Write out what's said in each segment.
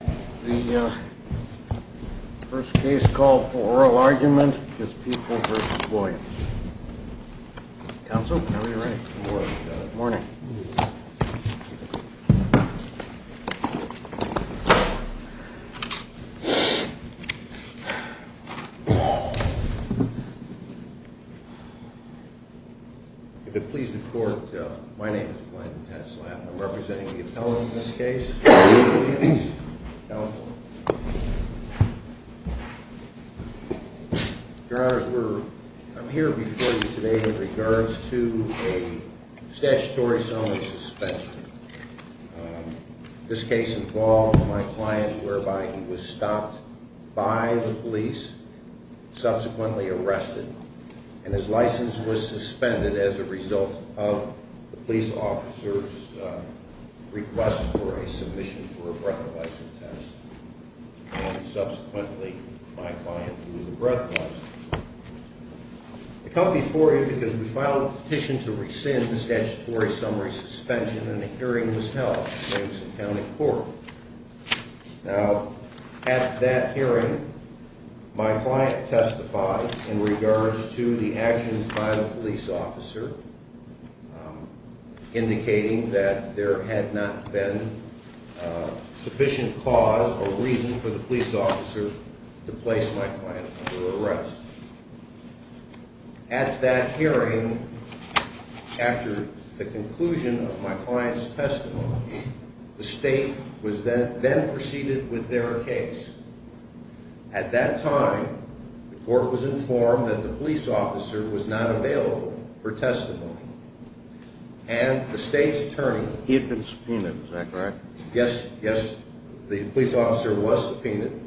The first case called for oral argument is People v. Williams. Counsel, whenever you're ready. Good morning. If it pleases the court, my name is Blanton Tetzel. I'm representing the appellant in this case, People v. Williams. Counsel. Your honors, I'm here before you today in regards to a statutory summary suspension. This case involved my client whereby he was stopped by the police, subsequently arrested, and his license was suspended as a result of the police officer's request for a submission for a breathalyzer test. Subsequently, my client blew the breathalyzer. I come before you because we filed a petition to rescind the statutory summary suspension and a hearing was held in Jamestown County Court. Now, at that hearing, my client testified in regards to the actions by the police officer indicating that there had not been sufficient cause or reason for the police officer to place my client under arrest. At that hearing, after the conclusion of my client's testimony, the state then proceeded with their case. At that time, the court was informed that the police officer was not available for testimony. And the state's attorney... He had been subpoenaed, is that correct? Yes, yes, the police officer was subpoenaed.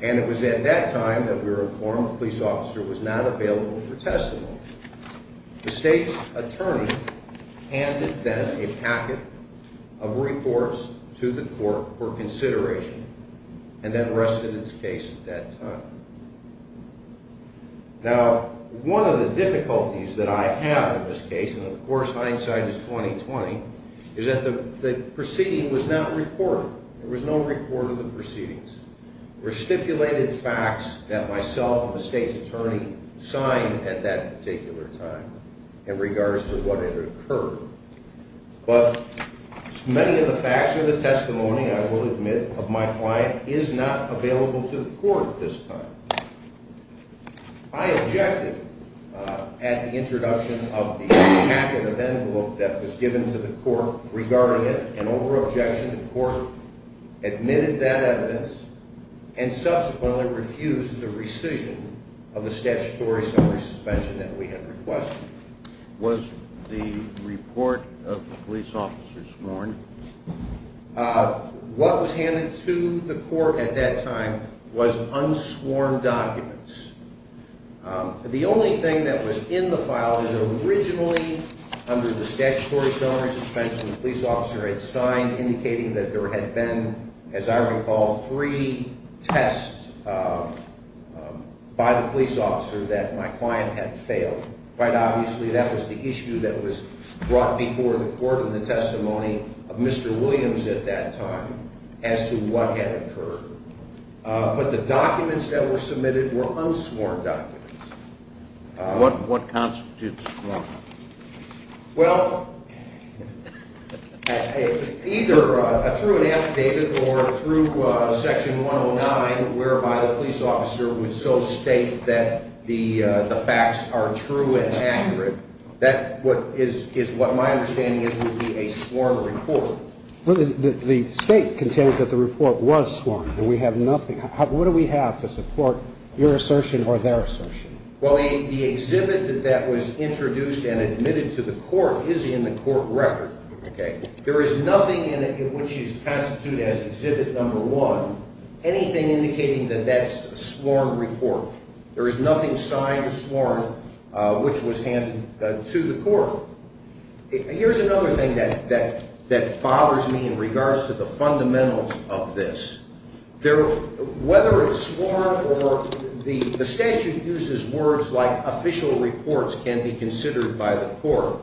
And it was at that time that we were informed the police officer was not available for testimony. The state's attorney handed then a packet of reports to the court for consideration and then rested its case at that time. Now, one of the difficulties that I have in this case, and of course hindsight is 20-20, is that the proceeding was not reported. There was no report of the proceedings. There were stipulated facts that myself and the state's attorney signed at that particular time in regards to what had occurred. But many of the facts of the testimony, I will admit, of my client is not available to the court at this time. I objected at the introduction of the packet of envelope that was given to the court regarding it and over objection, the court admitted that evidence and subsequently refused the rescission of the statutory summary suspension that we had requested. Was the report of the police officer sworn? What was handed to the court at that time was unsworn documents. The only thing that was in the file is that originally under the statutory summary suspension the police officer had signed indicating that there had been, as I recall, three tests by the police officer that my client had failed. Quite obviously that was the issue that was brought before the court in the testimony of Mr. Williams at that time as to what had occurred. But the documents that were submitted were unsworn documents. What constitutes sworn? Well, either through an affidavit or through Section 109 whereby the police officer would so state that the facts are true and accurate, that is what my understanding is would be a sworn report. The state contains that the report was sworn. We have nothing. What do we have to support your assertion or their assertion? Well, the exhibit that was introduced and admitted to the court is in the court record. There is nothing in it which is constituted as exhibit number one, anything indicating that that's a sworn report. There is nothing signed or sworn which was handed to the court. Here's another thing that bothers me in regards to the fundamentals of this. Whether it's sworn or the statute uses words like official reports can be considered by the court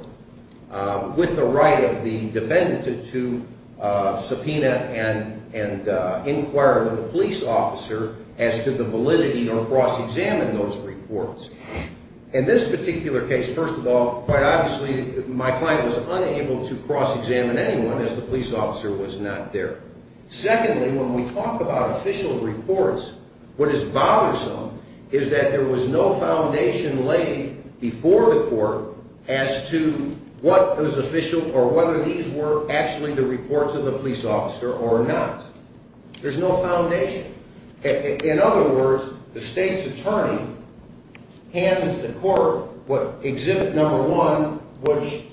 with the right of the defendant to subpoena and inquire with the police officer as to the validity or cross-examine those reports. In this particular case, first of all, quite obviously my client was unable to cross-examine anyone as the police officer was not there. Secondly, when we talk about official reports, what is bothersome is that there was no foundation laid before the court as to what was official or whether these were actually the reports of the police officer or not. There's no foundation. In other words, the state's attorney hands the court what exhibit number one, which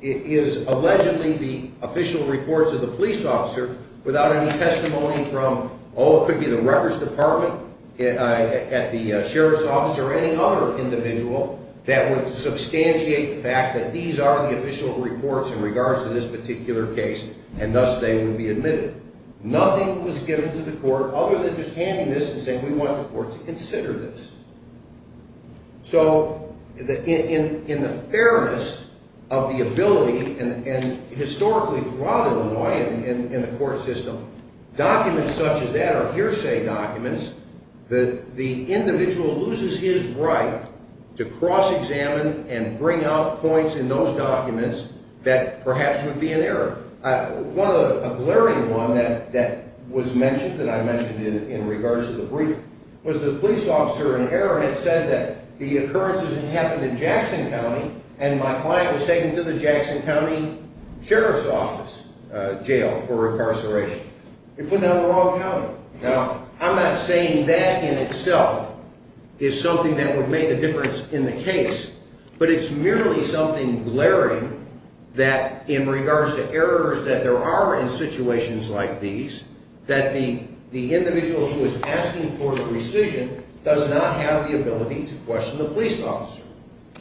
is allegedly the official reports of the police officer without any testimony from, oh, it could be the records department at the sheriff's office or any other individual that would substantiate the fact that these are the official reports in regards to this particular case and thus they would be admitted. Nothing was given to the court other than just handing this and saying, we want the court to consider this. So in the fairness of the ability and historically throughout Illinois in the court system, documents such as that or hearsay documents, the individual loses his right to cross-examine and bring out points in those documents that perhaps would be in error. One of the glaring ones that was mentioned that I mentioned in regards to the brief was the police officer in error had said that the occurrence didn't happen in Jackson County and my client was taken to the Jackson County Sheriff's Office jail for incarceration. They put that on the wrong counter. Now, I'm not saying that in itself is something that would make a difference in the case, but it's merely something glaring that in regards to errors that there are in situations like these that the individual who is asking for the rescission does not have the ability to question the police officer.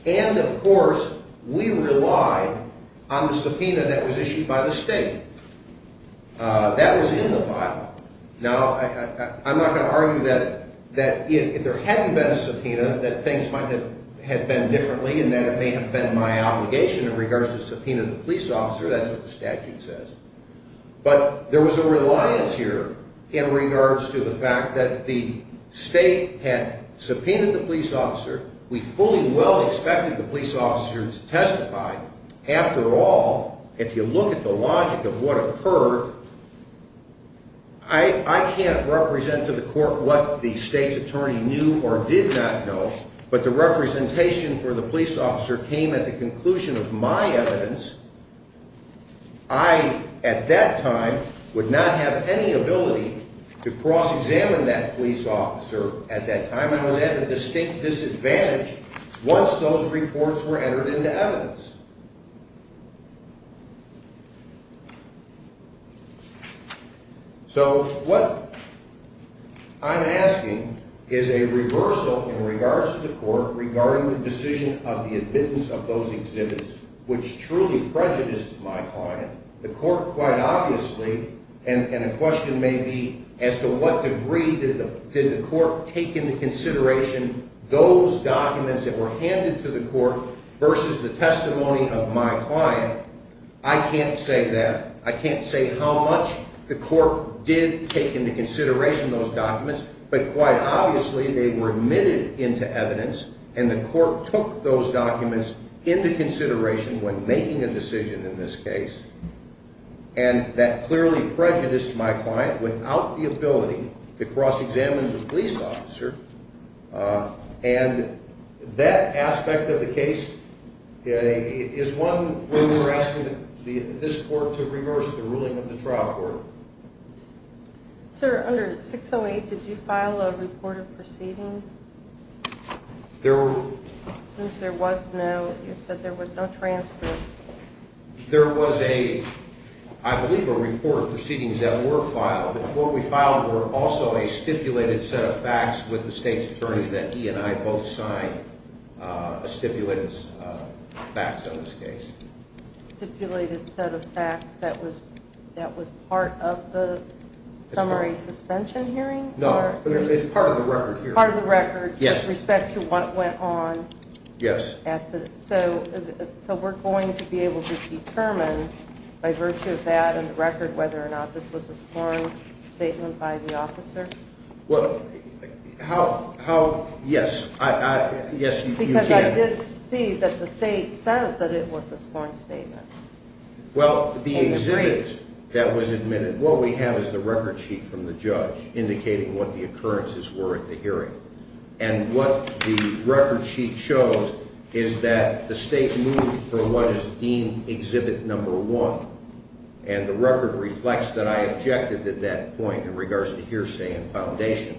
And, of course, we relied on the subpoena that was issued by the state. That was in the file. Now, I'm not going to argue that if there hadn't been a subpoena that things might have been differently and that it may have been my obligation in regards to the subpoena of the police officer. That's what the statute says. But there was a reliance here in regards to the fact that the state had subpoenaed the police officer. We fully well expected the police officer to testify. After all, if you look at the logic of what occurred, I can't represent to the court what the state's attorney knew or did not know, but the representation for the police officer came at the conclusion of my evidence. I, at that time, would not have any ability to cross-examine that police officer. At that time, I was at a distinct disadvantage once those reports were entered into evidence. So what I'm asking is a reversal in regards to the court regarding the decision of the admittance of those exhibits, which truly prejudiced my client. The court, quite obviously, and a question may be as to what degree did the court take into consideration those documents that were handed to the court versus the testimony of my client. I can't say that. I can't say how much the court did take into consideration those documents, but quite obviously, they were admitted into evidence and the court took those documents into consideration when making a decision in this case, and that clearly prejudiced my client without the ability to cross-examine the police officer, and that aspect of the case is one where we're asking this court to reverse the ruling of the trial court. Sir, under 608, did you file a report of proceedings? Since there was no, you said there was no transcript. There was a, I believe, a report of proceedings that were filed. What we filed were also a stipulated set of facts with the state's attorney that he and I both signed a stipulated set of facts on this case. Stipulated set of facts that was part of the summary suspension hearing? No, it's part of the record here. Part of the record with respect to what went on? Yes. So we're going to be able to determine by virtue of that and the record whether or not this was a sworn statement by the officer? Well, how, yes, yes, you can. I did see that the state says that it was a sworn statement. Well, the exhibit that was admitted, what we have is the record sheet from the judge indicating what the occurrences were at the hearing, and what the record sheet shows is that the state moved from what is deemed exhibit number one, and the record reflects that I objected at that point in regards to hearsay and foundation.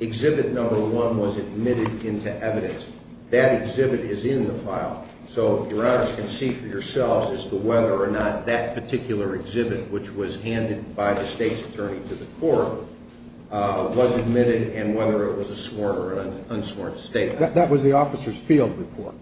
Exhibit number one was admitted into evidence. That exhibit is in the file. So, Your Honor, you can see for yourselves as to whether or not that particular exhibit, which was handed by the state's attorney to the court, was admitted and whether it was a sworn or an unsworn statement. That was the officer's field report?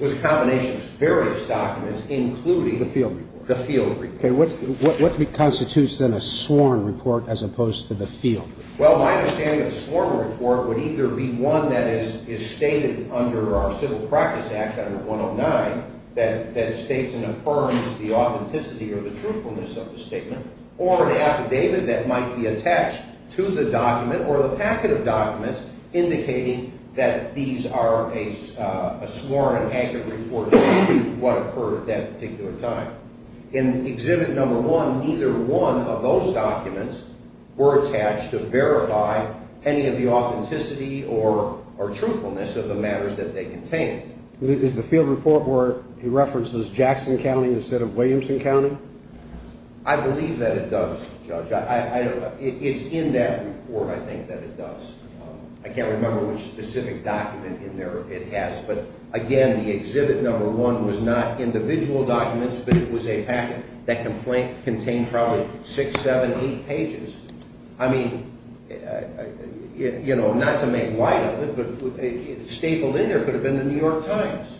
It was a combination of various documents, including the field report. The field report. Okay. What constitutes then a sworn report as opposed to the field report? Well, my understanding of a sworn report would either be one that is stated under our Civil Practice Act, under 109, that states and affirms the authenticity or the truthfulness of the statement, or an affidavit that might be attached to the document or the packet of documents indicating that these are a sworn and accurate report of what occurred at that particular time. In exhibit number one, neither one of those documents were attached to verify any of the authenticity or truthfulness of the matters that they contained. Is the field report where it references Jackson County instead of Williamson County? I believe that it does, Judge. It's in that report, I think, that it does. I can't remember which specific document in there it has. But, again, the exhibit number one was not individual documents, but it was a packet. That complaint contained probably six, seven, eight pages. I mean, you know, not to make light of it, but stapled in there could have been the New York Times.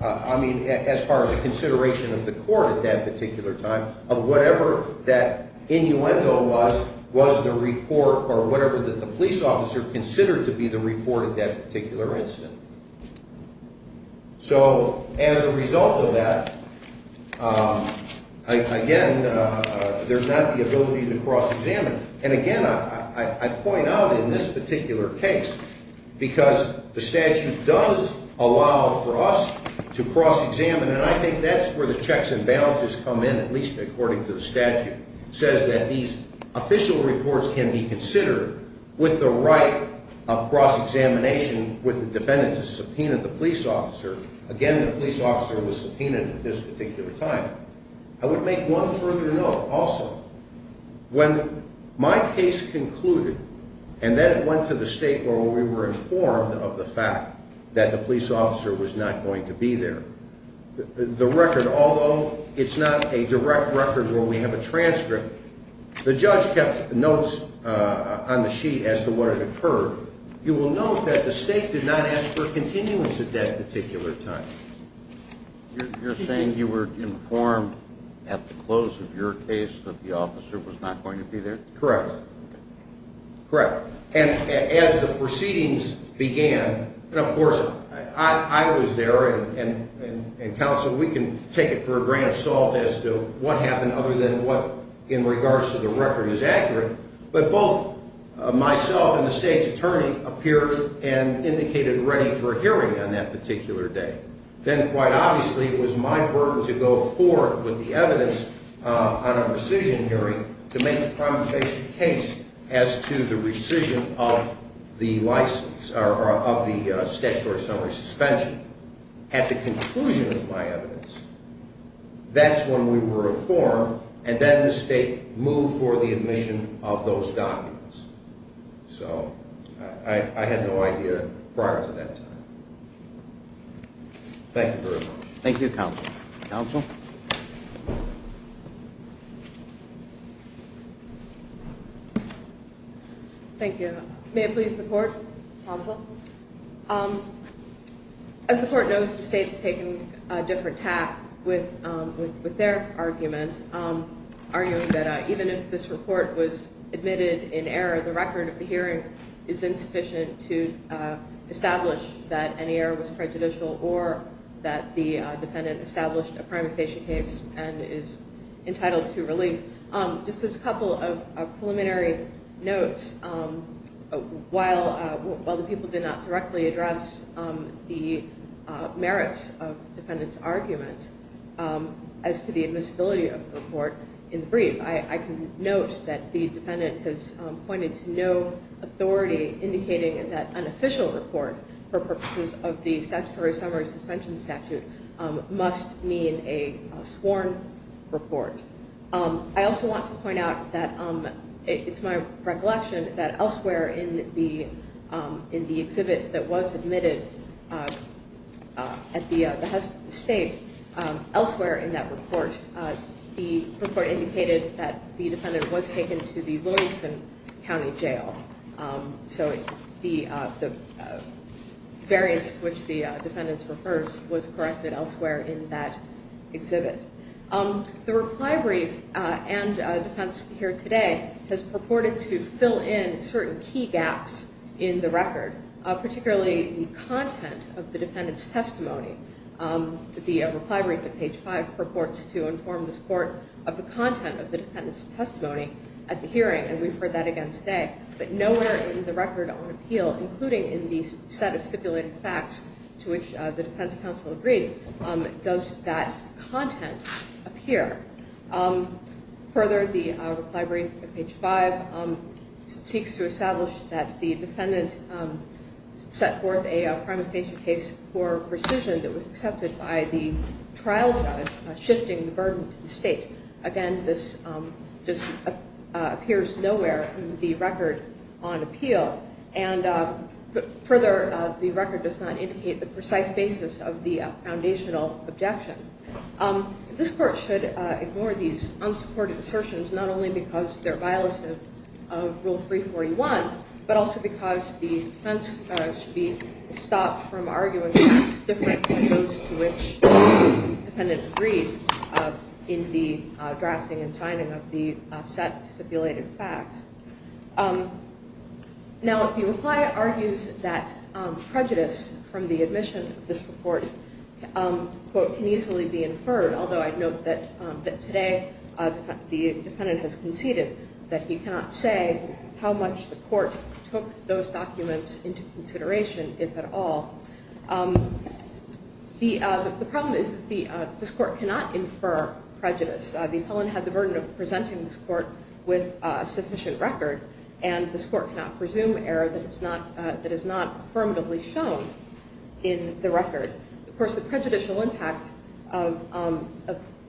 I mean, as far as a consideration of the court at that particular time of whatever that innuendo was, was the report or whatever that the police officer considered to be the report of that particular incident. So, as a result of that, again, there's not the ability to cross-examine. And, again, I point out in this particular case because the statute does allow for us to cross-examine, and I think that's where the checks and balances come in, at least according to the statute. It says that these official reports can be considered with the right of cross-examination with the defendant to subpoena the police officer. Again, the police officer was subpoenaed at this particular time. I would make one further note also. When my case concluded and then it went to the state where we were informed of the fact that the police officer was not going to be there, the record, although it's not a direct record where we have a transcript, the judge kept notes on the sheet as to what had occurred. You will note that the state did not ask for a continuance at that particular time. You're saying you were informed at the close of your case that the officer was not going to be there? Correct. Correct. And as the proceedings began, and, of course, I was there and counseled. We can take it for a grain of salt as to what happened other than what in regards to the record is accurate. But both myself and the state's attorney appeared and indicated ready for a hearing on that particular day. Then, quite obviously, it was my burden to go forth with the evidence on a rescission hearing to make a compensation case as to the rescission of the license or of the statutory summary suspension. At the conclusion of my evidence, that's when we were informed, and then the state moved for the admission of those documents. So I had no idea prior to that time. Thank you very much. Thank you, counsel. Counsel? May it please the court? Counsel? As the court knows, the state has taken a different tack with their argument, arguing that even if this report was admitted in error, the record of the hearing is insufficient to establish that any error was prejudicial or that the defendant established a primary case and is entitled to relief. Just as a couple of preliminary notes, while the people did not directly address the merits of the defendant's argument as to the admissibility of the report in the brief, I can note that the defendant has pointed to no authority indicating that an official report for purposes of the statutory summary suspension statute must mean a sworn report. I also want to point out that it's my recollection that elsewhere in the exhibit that was admitted at the state, elsewhere in that report, the report indicated that the defendant was taken to the Williamson County Jail. So the variance to which the defendants refers was corrected elsewhere in that exhibit. The reply brief and defense here today has purported to fill in certain key gaps in the record, particularly the content of the defendant's testimony. The reply brief at page five purports to inform this court of the content of the defendant's testimony at the hearing, and we've heard that again today. But nowhere in the record on appeal, including in the set of stipulated facts to which the defense counsel agreed, does that content appear. Further, the reply brief at page five seeks to establish that the defendant set forth a primary case for rescission that was accepted by the trial judge shifting the burden to the state. Again, this just appears nowhere in the record on appeal. And further, the record does not indicate the precise basis of the foundational objection. This court should ignore these unsupported assertions, not only because they're violative of Rule 341, but also because the defense should be stopped from arguing facts different from those to which the defendant agreed in the drafting and signing of the set of stipulated facts. Now, the reply argues that prejudice from the admission of this report can easily be inferred, although I note that today the defendant has conceded that he cannot say how much the court took those documents into consideration, if at all. The problem is that this court cannot infer prejudice. The appellant had the burden of presenting this court with a sufficient record, and this court cannot presume error that is not affirmatively shown in the record. Of course, the prejudicial impact of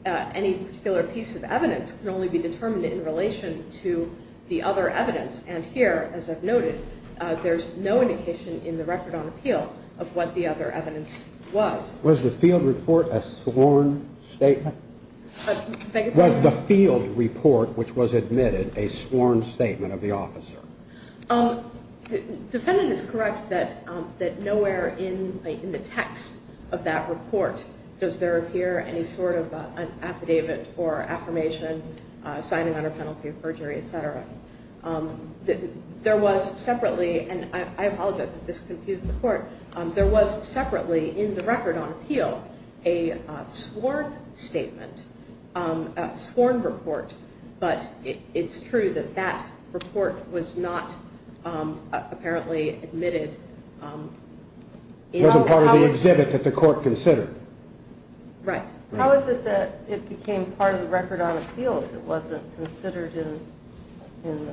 any particular piece of evidence can only be determined in relation to the other evidence. And here, as I've noted, there's no indication in the record on appeal of what the other evidence was. Was the field report a sworn statement? Was the field report, which was admitted, a sworn statement of the officer? The defendant is correct that nowhere in the text of that report does there appear any sort of an affidavit or affirmation, signing under penalty of perjury, et cetera. There was separately, and I apologize if this confused the court, there was separately in the record on appeal a sworn statement, a sworn report, but it's true that that report was not apparently admitted. It wasn't part of the exhibit that the court considered. Right. How is it that it became part of the record on appeal if it wasn't considered in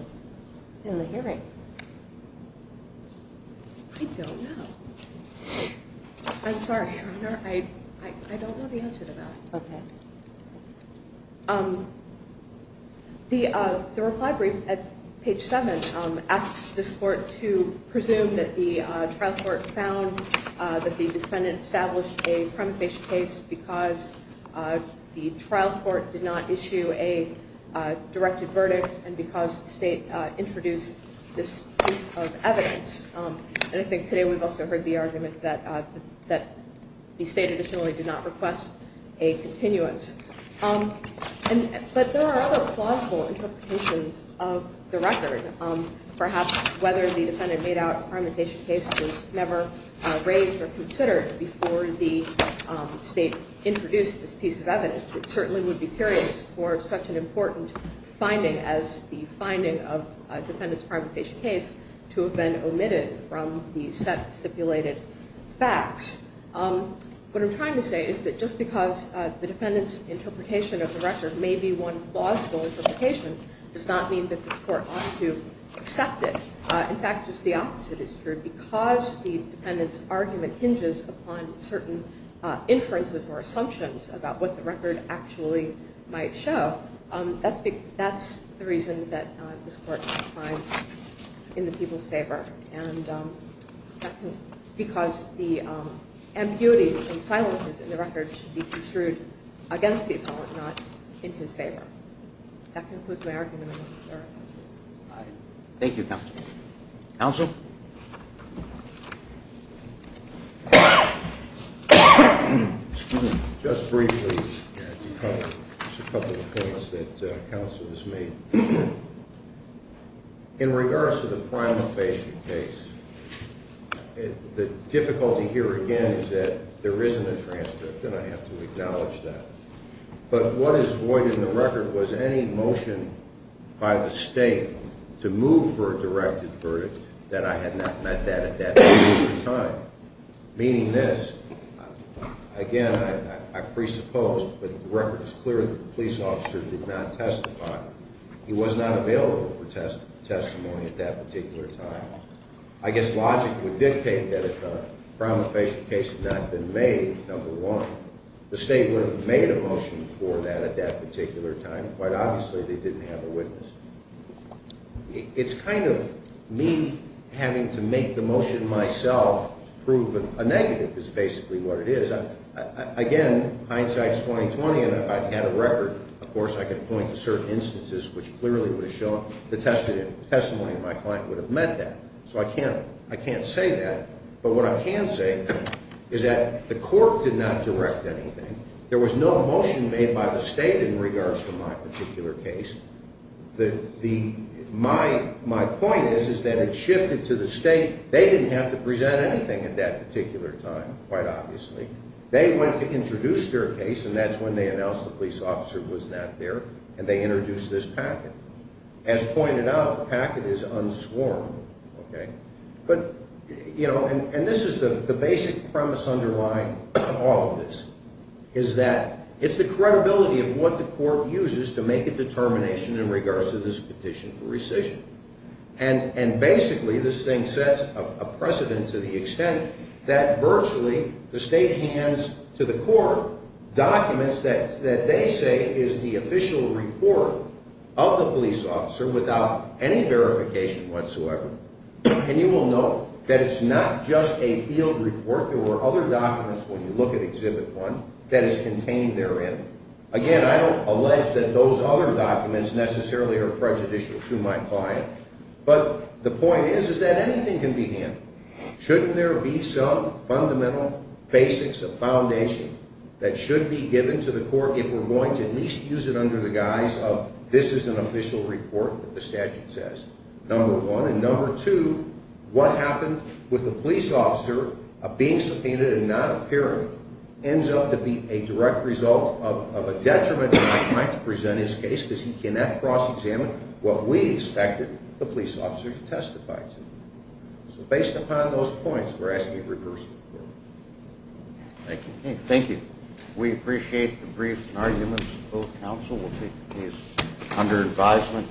the hearing? I don't know. I'm sorry, Your Honor, I don't know the answer to that. Okay. The reply brief at page 7 asks this court to presume that the trial court found that the defendant established a prima facie case because the trial court did not issue a directed verdict and because the state introduced this piece of evidence. And I think today we've also heard the argument that the state additionally did not request a continuance. But there are other plausible interpretations of the record. Perhaps whether the defendant made out a prima facie case was never raised or considered before the state introduced this piece of evidence. I certainly would be curious for such an important finding as the finding of a defendant's prima facie case to have been omitted from the set of stipulated facts. What I'm trying to say is that just because the defendant's interpretation of the record may be one plausible interpretation does not mean that this court ought to accept it. In fact, just the opposite is true. Because the defendant's argument hinges upon certain inferences or assumptions about what the record actually might show, that's the reason that this court finds in the people's favor. And because the ambiguities and silences in the record should be construed against the appellant, not in his favor. That concludes my argument. Thank you, counsel. Counsel? Excuse me. Just briefly, just a couple of points that counsel has made. In regards to the prima facie case, the difficulty here again is that there isn't a transcript, and I have to acknowledge that. But what is void in the record was any motion by the state to move for a directed verdict that I had not met that at that particular time. Meaning this, again, I presuppose, but the record is clear that the police officer did not testify. He was not available for testimony at that particular time. I guess logic would dictate that if a prima facie case had not been made, number one, the state would have made a motion for that at that particular time. Quite obviously, they didn't have a witness. It's kind of me having to make the motion myself prove a negative is basically what it is. Again, hindsight is 20-20, and if I had a record, of course, I could point to certain instances which clearly would have shown the testimony of my client would have meant that. So I can't say that, but what I can say is that the court did not direct anything. There was no motion made by the state in regards to my particular case. My point is that it shifted to the state. They didn't have to present anything at that particular time, quite obviously. They went to introduce their case, and that's when they announced the police officer was not there, and they introduced this packet. As pointed out, the packet is unsworn, okay? But, you know, and this is the basic premise underlying all of this is that it's the credibility of what the court uses to make a determination in regards to this petition for rescission. And basically, this thing sets a precedent to the extent that virtually the state hands to the court documents that they say is the official report of the police officer without any verification whatsoever. And you will note that it's not just a field report. There were other documents when you look at Exhibit 1 that is contained therein. Again, I don't allege that those other documents necessarily are prejudicial to my client, but the point is is that anything can be handled. Shouldn't there be some fundamental basics of foundation that should be given to the court if we're going to at least use it under the guise of this is an official report that the statute says, number one? And number two, what happened with the police officer being subpoenaed and not appearing ends up to be a direct result of a detriment to my client to present his case because he cannot cross-examine what we expected the police officer to testify to. So based upon those points, we're asking you to reverse the court. Thank you. Thank you. We appreciate the brief arguments of both counsel. We'll take the case under advisement.